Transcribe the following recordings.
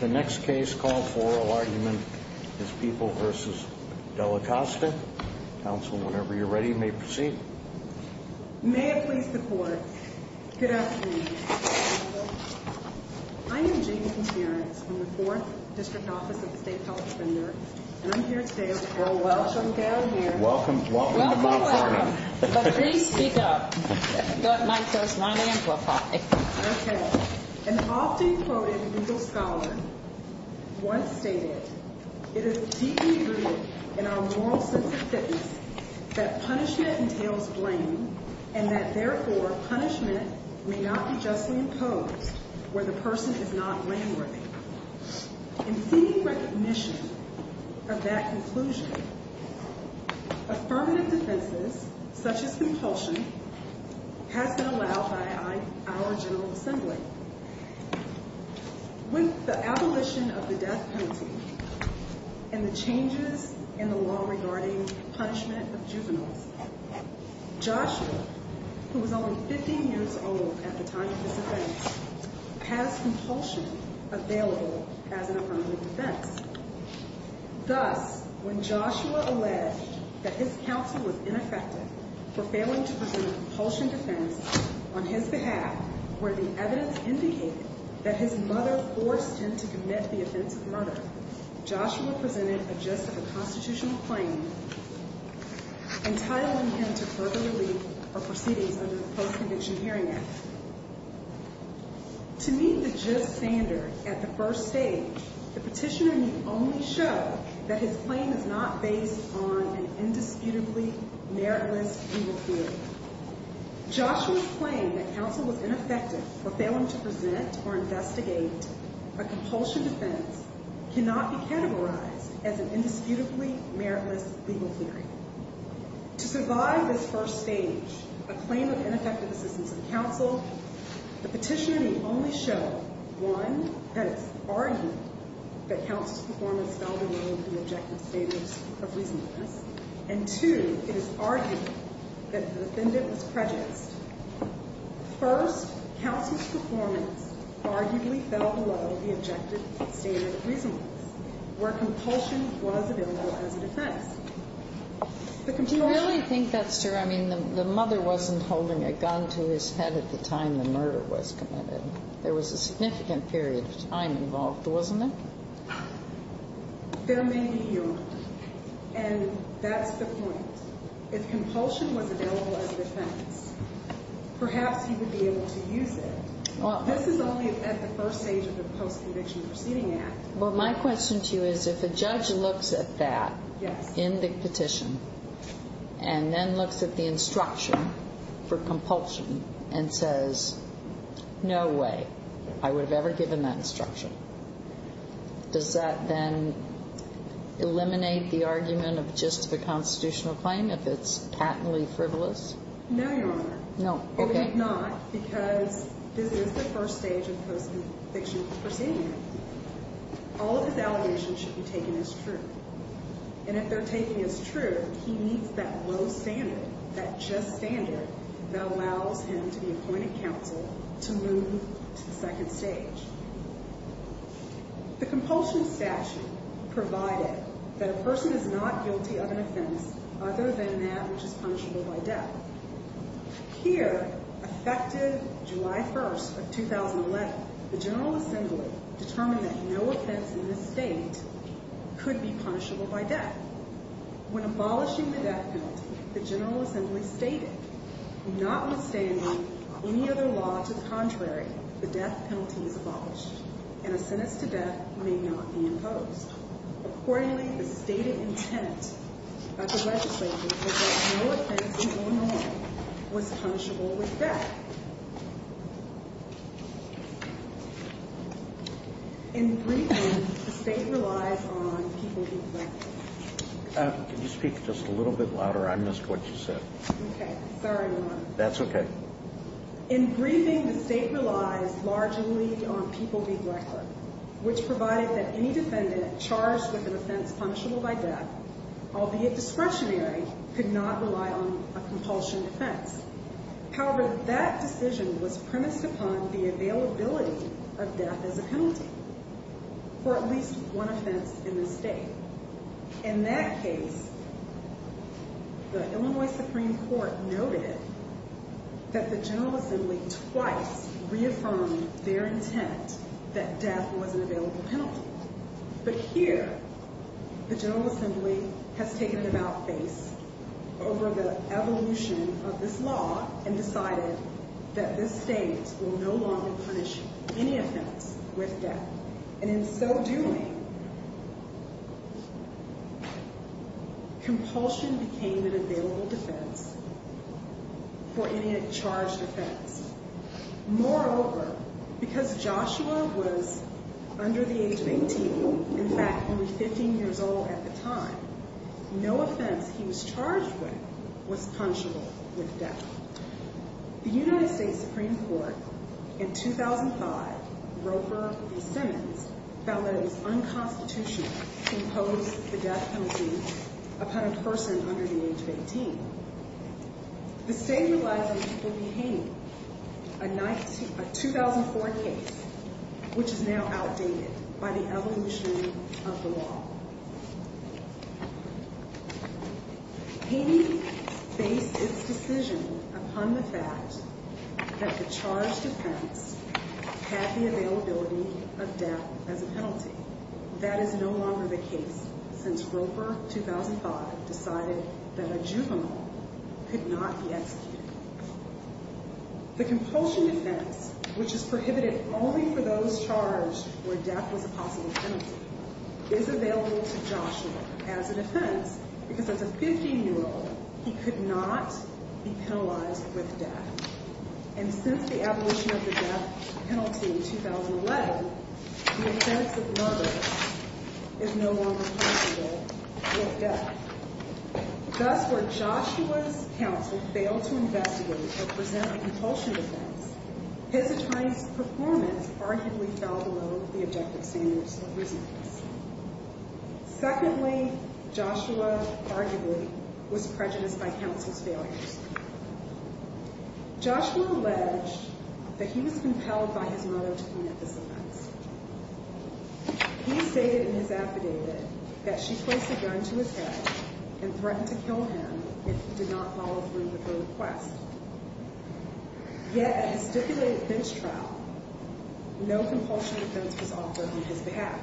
The next case called for argument is People v. Dallacosta. Council, whenever you're ready, may proceed. May I please support? Good afternoon. I'm Eugenie from the Fourth District Office of the State Health Offender. And I'm here today to throw a welcome down here. Welcome. Welcome. Welcome. Welcome. But please speak up. That mic does not amplify. Okay. An often quoted legal scholar once stated, it is deeply rooted in our moral sense of fitness that punishment entails blame and that therefore punishment may not be justly imposed where the person is not landworthy. In seeking recognition of that conclusion, affirmative defenses, such as compulsion, has been allowed by our General Assembly. With the abolition of the death penalty and the changes in the law regarding punishment of juveniles, Joshua, who was only 15 years old at the time of this event, has compulsion available as an affirmative defense. Thus, when Joshua alleged that his counsel was ineffective for failing to present a compulsion defense on his behalf where the evidence indicated that his mother forced him to commit the offense of murder, Joshua presented a gist of a constitutional claim entitling him to further relief or proceedings under the Post-Conviction Hearing Act. To meet the gist standard at the first stage, the petitioner may only show that his claim is not based on an indisputably meritless legal theory. Joshua's claim that counsel was ineffective for failing to present or investigate a compulsion defense cannot be categorized as an indisputably meritless legal theory. To survive this first stage, a claim of ineffective assistance of counsel, the petitioner may only show, one, that it's argued that counsel's performance fell below the objective standards of reasonableness. And, two, it is argued that the defendant was prejudiced. First, counsel's performance arguably fell below the objective standard of reasonableness where compulsion was available as a defense. The compulsion... Do you really think that's true? I mean, the mother wasn't holding a gun to his head at the time the murder was committed. There was a significant period of time involved, wasn't there? There may be, Your Honor. And that's the point. If compulsion was available as a defense, perhaps he would be able to use it. This is only at the first stage of the Post-Conviction Proceeding Act. Well, my question to you is, if a judge looks at that in the petition and then looks at the instruction for compulsion and says, no way, I would have ever given that instruction. Does that then eliminate the argument of just the constitutional claim if it's patently frivolous? No, Your Honor. No. Okay. Or if not, because this is the first stage of the Post-Conviction Proceeding Act. All of his allegations should be taken as true. And if they're taken as true, he needs that low standard, that just standard that allows him to be appointed counsel to move to the second stage. The compulsion statute provided that a person is not guilty of an offense other than that which is punishable by death. Here, effective July 1st of 2011, the General Assembly determined that no offense in this state could be punishable by death. When abolishing the death penalty, the General Assembly stated, notwithstanding any other law to the contrary, the death penalty is abolished. And a sentence to death may not be imposed. Accordingly, the stated intent of the legislature was that no offense in Illinois was punishable with death. In briefing, the state relies on people being collected. Could you speak just a little bit louder? I missed what you said. Okay. Sorry, Your Honor. That's okay. In briefing, the state relies largely on people being collected, which provided that any defendant charged with an offense punishable by death, albeit discretionary, could not rely on a compulsion defense. However, that decision was premised upon the availability of death as a penalty for at least one offense in this state. In that case, the Illinois Supreme Court noted it. That the General Assembly twice reaffirmed their intent that death was an available penalty. But here, the General Assembly has taken the mouthpiece over the evolution of this law and decided that this state will no longer punish any offense with death. And in so doing, compulsion became an available defense for any charged offense. Moreover, because Joshua was under the age of 18, in fact, only 15 years old at the time, no offense he was charged with was punishable with death. The United States Supreme Court, in 2005, Roper v. Simmons, found that it was unconstitutional to impose the death penalty upon a person under the age of 18. The state realizes it became a 2004 case, which is now outdated by the evolution of the law. He based his decision upon the fact that the charged offense had the availability of death as a penalty. That is no longer the case, since Roper, 2005, decided that a juvenile could not be executed. The compulsion defense, which is prohibited only for those charged where death was a possible penalty, is available to Joshua as a defense, because as a 15-year-old, he could not be penalized with death. And since the evolution of the death penalty in 2011, the offense of Roper is no longer punishable with death. Thus, where Joshua's counsel failed to investigate or present a compulsion defense, his attorney's performance arguably fell below the objective standards of reasonableness. Secondly, Joshua arguably was prejudiced by counsel's failures. Joshua alleged that he was compelled by his mother to commit this offense. He stated in his affidavit that she placed a gun to his head and threatened to kill him if he did not follow through with her request. Yet, at his stipulated bench trial, no compulsion defense was offered on his behalf.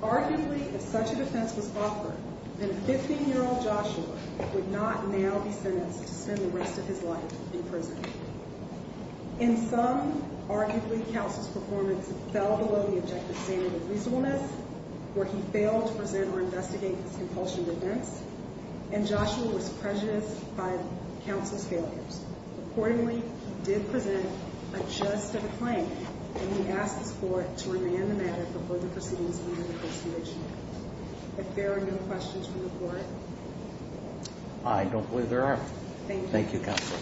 Arguably, if such a defense was offered, then a 15-year-old Joshua would not now be sentenced to spend the rest of his life in prison. In sum, arguably, counsel's performance fell below the objective standards of reasonableness, where he failed to present or investigate his compulsion defense, and Joshua was prejudiced by counsel's failures. Accordingly, he did present a just defense claim, and he asked his court to remand the matter before the proceedings began at this stage. If there are no questions from the court. I don't believe there are. Thank you, counsel.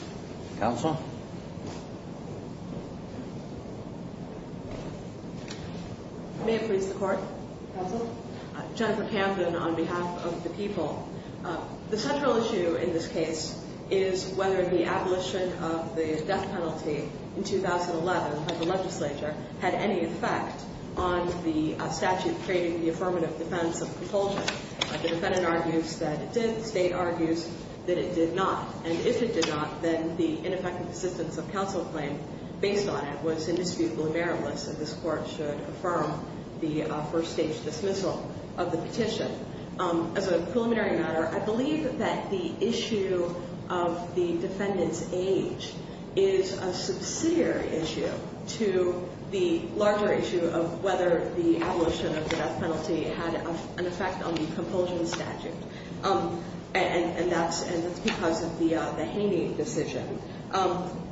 Counsel? Jennifer Camden on behalf of the people. The central issue in this case is whether the abolition of the death penalty in 2011 by the legislature had any effect on the statute creating the affirmative defense of compulsion. The defendant argues that it did. The state argues that it did not. And if it did not, then the ineffective assistance of the people would be lost. Based on it was indisputably meritless, and this court should affirm the first-stage dismissal of the petition. As a preliminary matter, I believe that the issue of the defendant's age is a subsidiary issue to the larger issue of whether the abolition of the death penalty had an effect on the compulsion statute. And that's because of the Haney decision.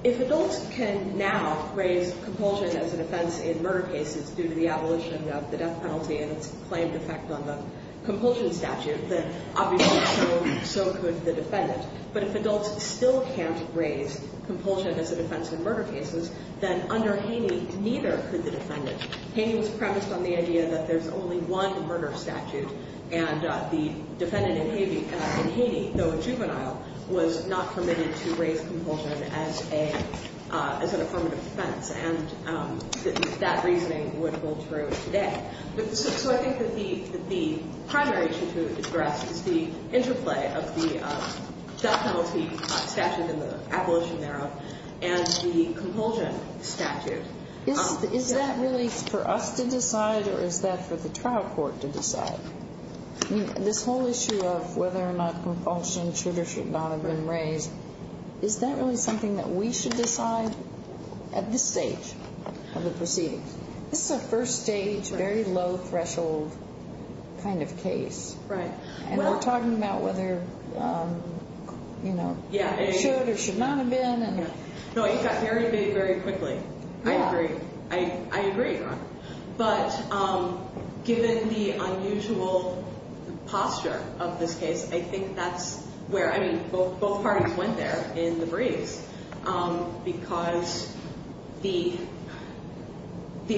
If adults can now raise compulsion as a defense in murder cases due to the abolition of the death penalty and its claimed effect on the compulsion statute, then obviously so could the defendant. But if adults still can't raise compulsion as a defense in murder cases, then under Haney, neither could the defendant. Haney was premised on the idea that there's only one murder statute, and the defendant in Haney, though a juvenile, was not permitted to raise compulsion as an affirmative defense. And that reasoning would hold true today. So I think that the primary issue to address is the interplay of the death penalty statute and the abolition narrow and the compulsion statute. Is that really for us to decide, or is that for the trial court to decide? This whole issue of whether or not compulsion should or should not have been raised, is that really something that we should decide at this stage of the proceedings? This is a first-stage, very low-threshold kind of case. And we're talking about whether it should or should not have been. No, it got very vague very quickly. I agree. I agree. But given the unusual posture of this case, I think that's where, I mean, both parties went there in the breeze. Because the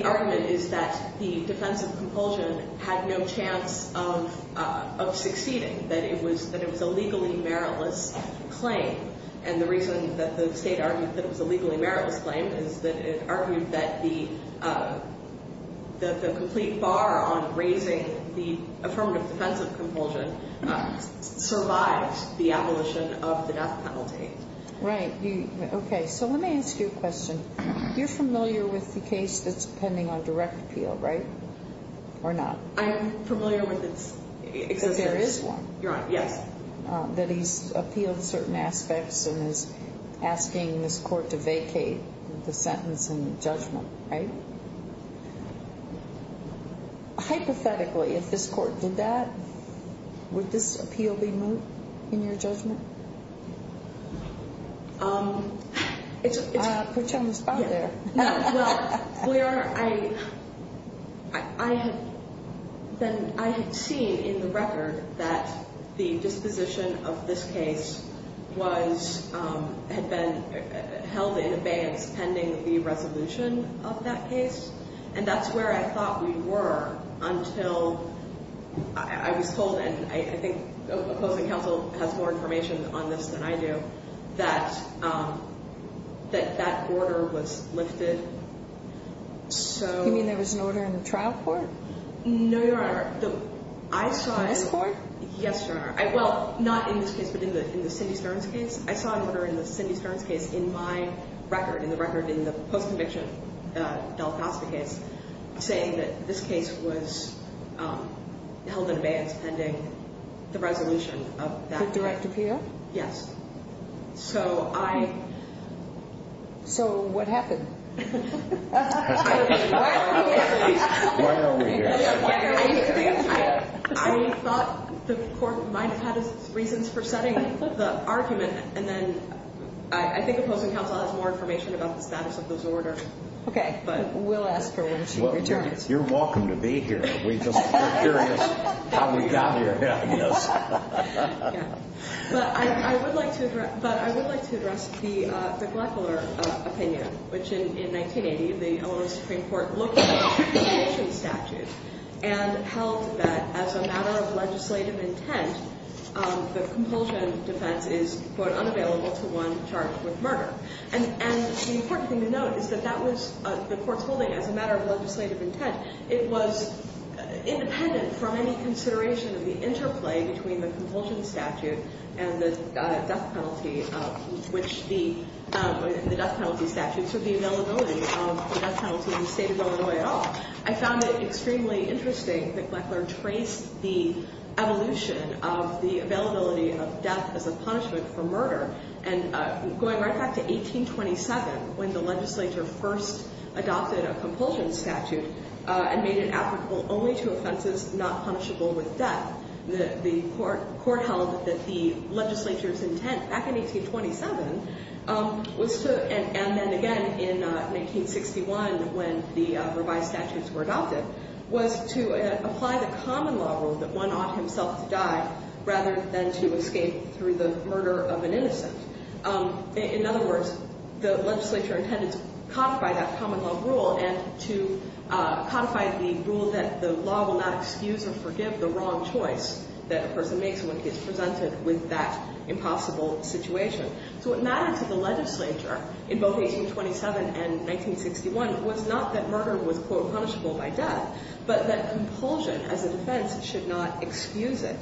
argument is that the defense of compulsion had no chance of succeeding, that it was a legally meritless claim. And the reason that the state argued that it was a legally meritless claim is that it argued that the complete bar on raising the affirmative defense of compulsion survived the abolition of the death penalty. Right. Okay. So let me ask you a question. You're familiar with the case that's pending on direct appeal, right? Or not? I'm familiar with it. Because there is one. You're on. Yes. That he's appealed certain aspects and is asking this court to vacate the sentence and judgment, right? Hypothetically, if this court did that, would this appeal be moved in your judgment? Put you on the spot there. No. Well, Claire, I had seen in the record that the disposition of this case had been held in abeyance pending the resolution of that case. And that's where I thought we were until I was told, and I think opposing counsel has more information on this than I do, that that order was lifted. So you mean there was an order in the trial court? No, Your Honor. I saw it. This court? Yes, Your Honor. Well, not in this case, but in the Cindy Stearns case. I saw an order in the Cindy Stearns case in my record, in the record in the post-conviction Del Costa case, saying that this case was held in abeyance pending the resolution of that case. The direct appeal? Yes. So I. So what happened? Why are we here? I thought the court might have had reasons for setting the argument, and then I think opposing counsel has more information about the status of this order. Okay, but we'll ask her when she returns. You're welcome to be here. We're just curious how we got here. Yeah. But I would like to address the Gleckler opinion, which in 1980, the Illinois Supreme Court looked at the compulsion statute and held that as a matter of legislative intent, the compulsion defense is, quote, unavailable to one charged with murder. And the important thing to note is that that was the court's holding as a matter of legislative intent. It was independent from any consideration of the interplay between the compulsion statute and the death penalty, which the death penalty statute, so the availability of the death penalty in the state of Illinois at all. I found it extremely interesting that Gleckler traced the evolution of the availability of death as a punishment for murder and going right back to 1827 when the legislature first adopted a compulsion statute and made it applicable only to offenses not punishable with death. The court held that the legislature's intent back in 1827 was to, and then again in 1961 when the revised statutes were adopted, was to apply the common law rule that one ought himself to die rather than to escape through the murder of an innocent. In other words, the legislature intended to codify that common law rule and to codify the rule that the law will not excuse or forgive the wrong choice that a person makes when he is presented with that impossible situation. So what mattered to the legislature in both 1827 and 1961 was not that murder was, quote, punishable by death, but that compulsion as a defense should not excuse it.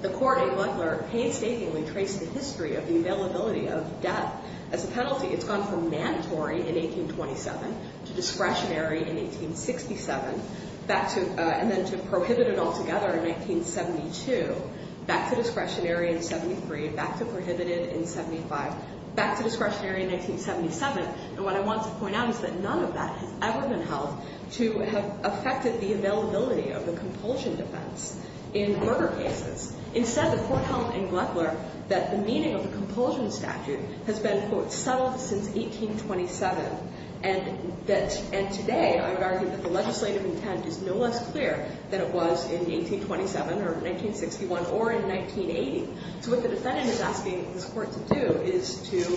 The court in Gleckler painstakingly traced the history of the availability of death as a penalty. It's gone from mandatory in 1827 to discretionary in 1867 and then to prohibited altogether in 1972, back to discretionary in 73, back to prohibited in 75, back to discretionary in 1977. And what I want to point out is that none of that has ever been held to have affected the availability of the compulsion defense in murder cases. Instead, the court held in Gleckler that the meaning of the compulsion statute has been, quote, settled since 1827. And today, I would argue that the legislative intent is no less clear than it was in 1827 or 1961 or in 1980. So what the defendant is asking this court to do is to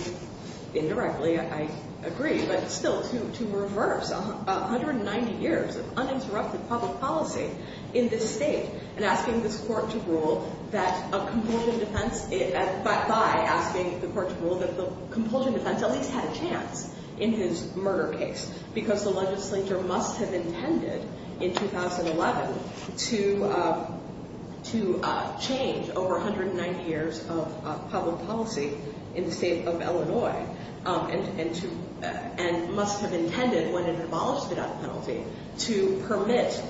indirectly, I agree, but still to reverse 190 years of uninterrupted public policy in this state and asking this court to rule that a compulsion defense – to change over 190 years of public policy in the state of Illinois and must have intended, when it abolished the death penalty, to permit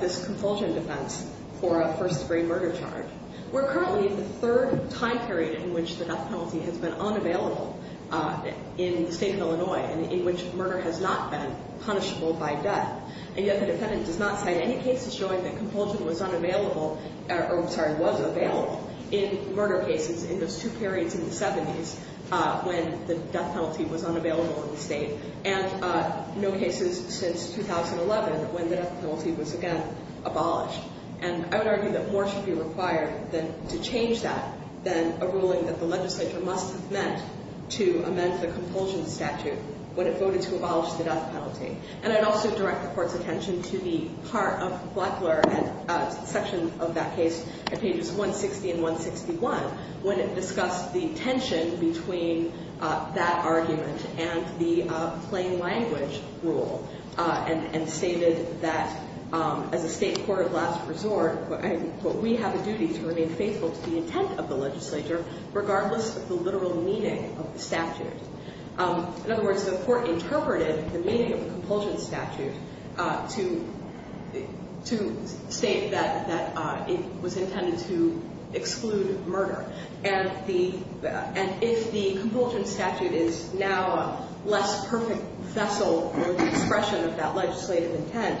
this compulsion defense for a first-degree murder charge. We're currently in the third time period in which the death penalty has been unavailable in the state of Illinois and in which murder has not been punishable by death. And yet the defendant does not cite any cases showing that compulsion was unavailable – or, I'm sorry, was available in murder cases in those two periods in the 70s when the death penalty was unavailable in the state. And no cases since 2011 when the death penalty was again abolished. And I would argue that more should be required to change that than a ruling that the legislature must have meant to amend the compulsion statute when it voted to abolish the death penalty. And I'd also direct the court's attention to the part of Butler and a section of that case at pages 160 and 161 when it discussed the tension between that argument and the plain language rule and stated that, as a state court of last resort, we have a duty to remain faithful to the intent of the legislature regardless of the literal meaning of the statute. In other words, the court interpreted the meaning of the compulsion statute to state that it was intended to exclude murder. And if the compulsion statute is now a less perfect vessel or expression of that legislative intent,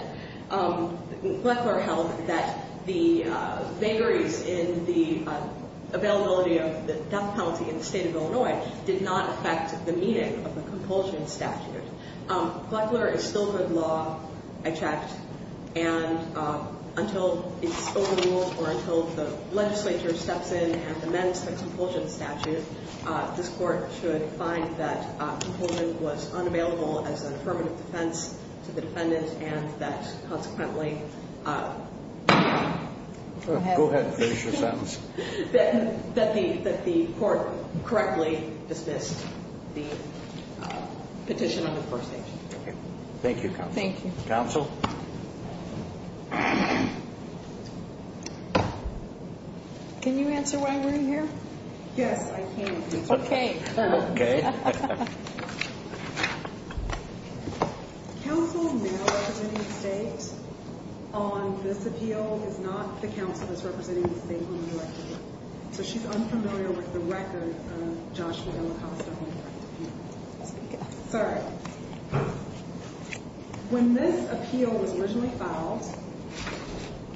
Gleckler held that the vagaries in the availability of the death penalty in the state of Illinois did not affect the meaning of the compulsion statute. Gleckler instilled the law, I checked, and until it's overruled or until the legislature steps in and amends the compulsion statute, this court should find that compulsion was unavailable as an affirmative defense to the defendant and that consequently Go ahead and finish your sentence. That the court correctly dismissed the petition on the first page. Thank you, counsel. Thank you. Counsel? Can you answer why we're here? Yes, I can. Okay. Okay. Counsel, now representing the state on this appeal is not the counsel that's representing the state on the direct appeal. So she's unfamiliar with the record of Joshua Delacosta on the direct appeal. Speak up. Sorry. When this appeal was originally filed,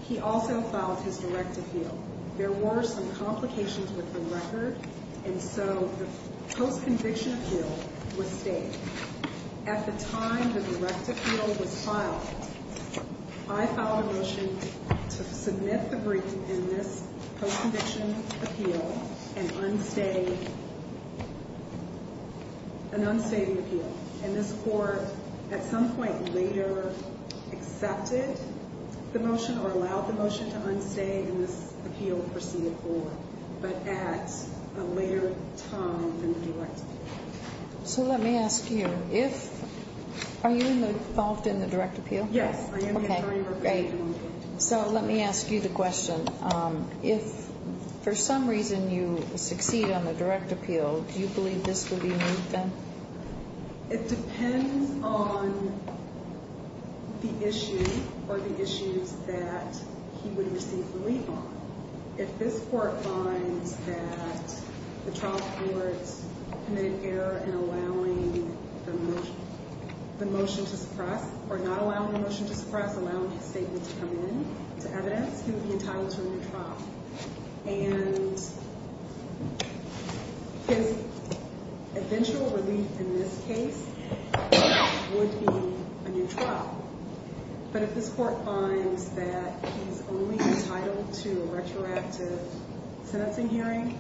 he also filed his direct appeal. There were some complications with the record, and so the post-conviction appeal was stayed. At the time the direct appeal was filed, I filed a motion to submit the brief in this post-conviction appeal and unstay the appeal. And this court at some point later accepted the motion or allowed the motion to unstay and this appeal proceeded forward. But at a later time than the direct appeal. So let me ask you. Are you involved in the direct appeal? Yes, I am. So let me ask you the question. If for some reason you succeed on the direct appeal, do you believe this would be removed then? It depends on the issue or the issues that he would receive relief on. If this court finds that the trial forward committed error in allowing the motion to suppress or not allowing the motion to suppress, allowing his statement to come in to evidence, he would be entitled to a new trial. And his eventual relief in this case would be a new trial. But if this court finds that he's only entitled to a retroactive sentencing hearing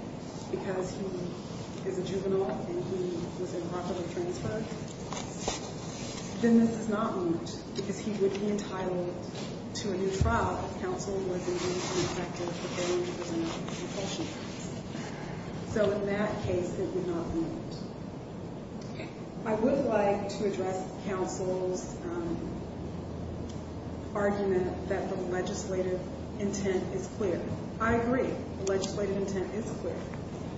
because he is a juvenile and he was improperly transferred, then this is not removed because he would be entitled to a new trial if counsel was in favor of an effective preparation of an expulsion case. So in that case, it would not be removed. I would like to address counsel's argument that the legislative intent is clear. I agree. The legislative intent is clear.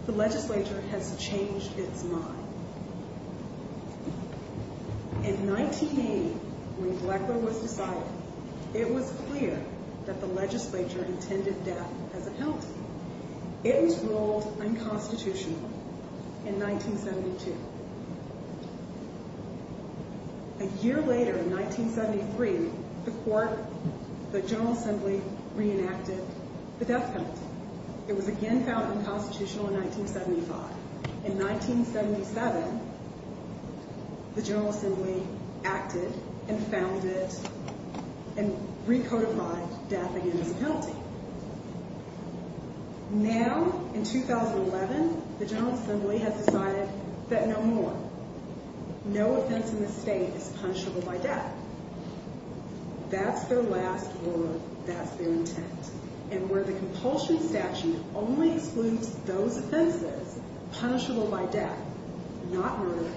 The legislature has changed its mind. In 1980, when Gleckler was decided, it was clear that the legislature intended death as a penalty. It was ruled unconstitutional in 1972. A year later, in 1973, the court, the General Assembly, reenacted the death penalty. It was again found unconstitutional in 1975. In 1977, the General Assembly acted and found it and recodified death again as a penalty. Now, in 2011, the General Assembly has decided that no more. No offense in this state is punishable by death. That's their last word. That's their intent. And where the compulsion statute only excludes those offenses punishable by death, not murder,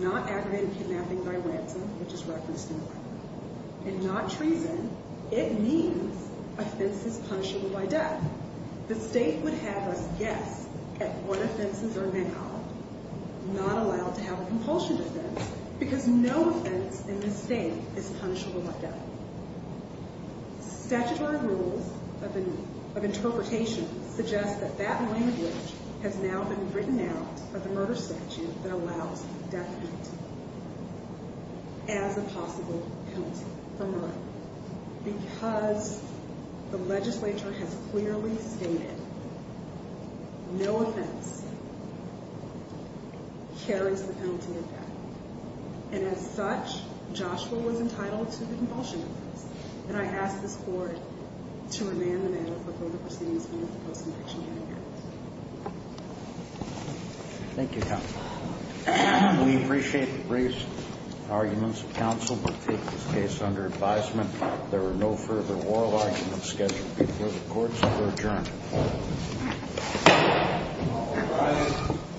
not aggravated kidnapping by ransom, which is referenced in the record, and not treason, it means offenses punishable by death. The state would have us guess at what offenses are now not allowed to have a compulsion defense because no offense in this state is punishable by death. Statutory rules of interpretation suggest that that language has now been written out of the murder statute that allows death penalty as a possible penalty for murder. Because the legislature has clearly stated no offense carries the penalty of death. And as such, Joshua was entitled to the compulsion defense. And I ask this court to amend the manner for both proceedings and the post-conviction hearing. Thank you, counsel. We appreciate the brief arguments of counsel, but take this case under advisement. There are no further oral arguments scheduled before the courts. We're adjourned.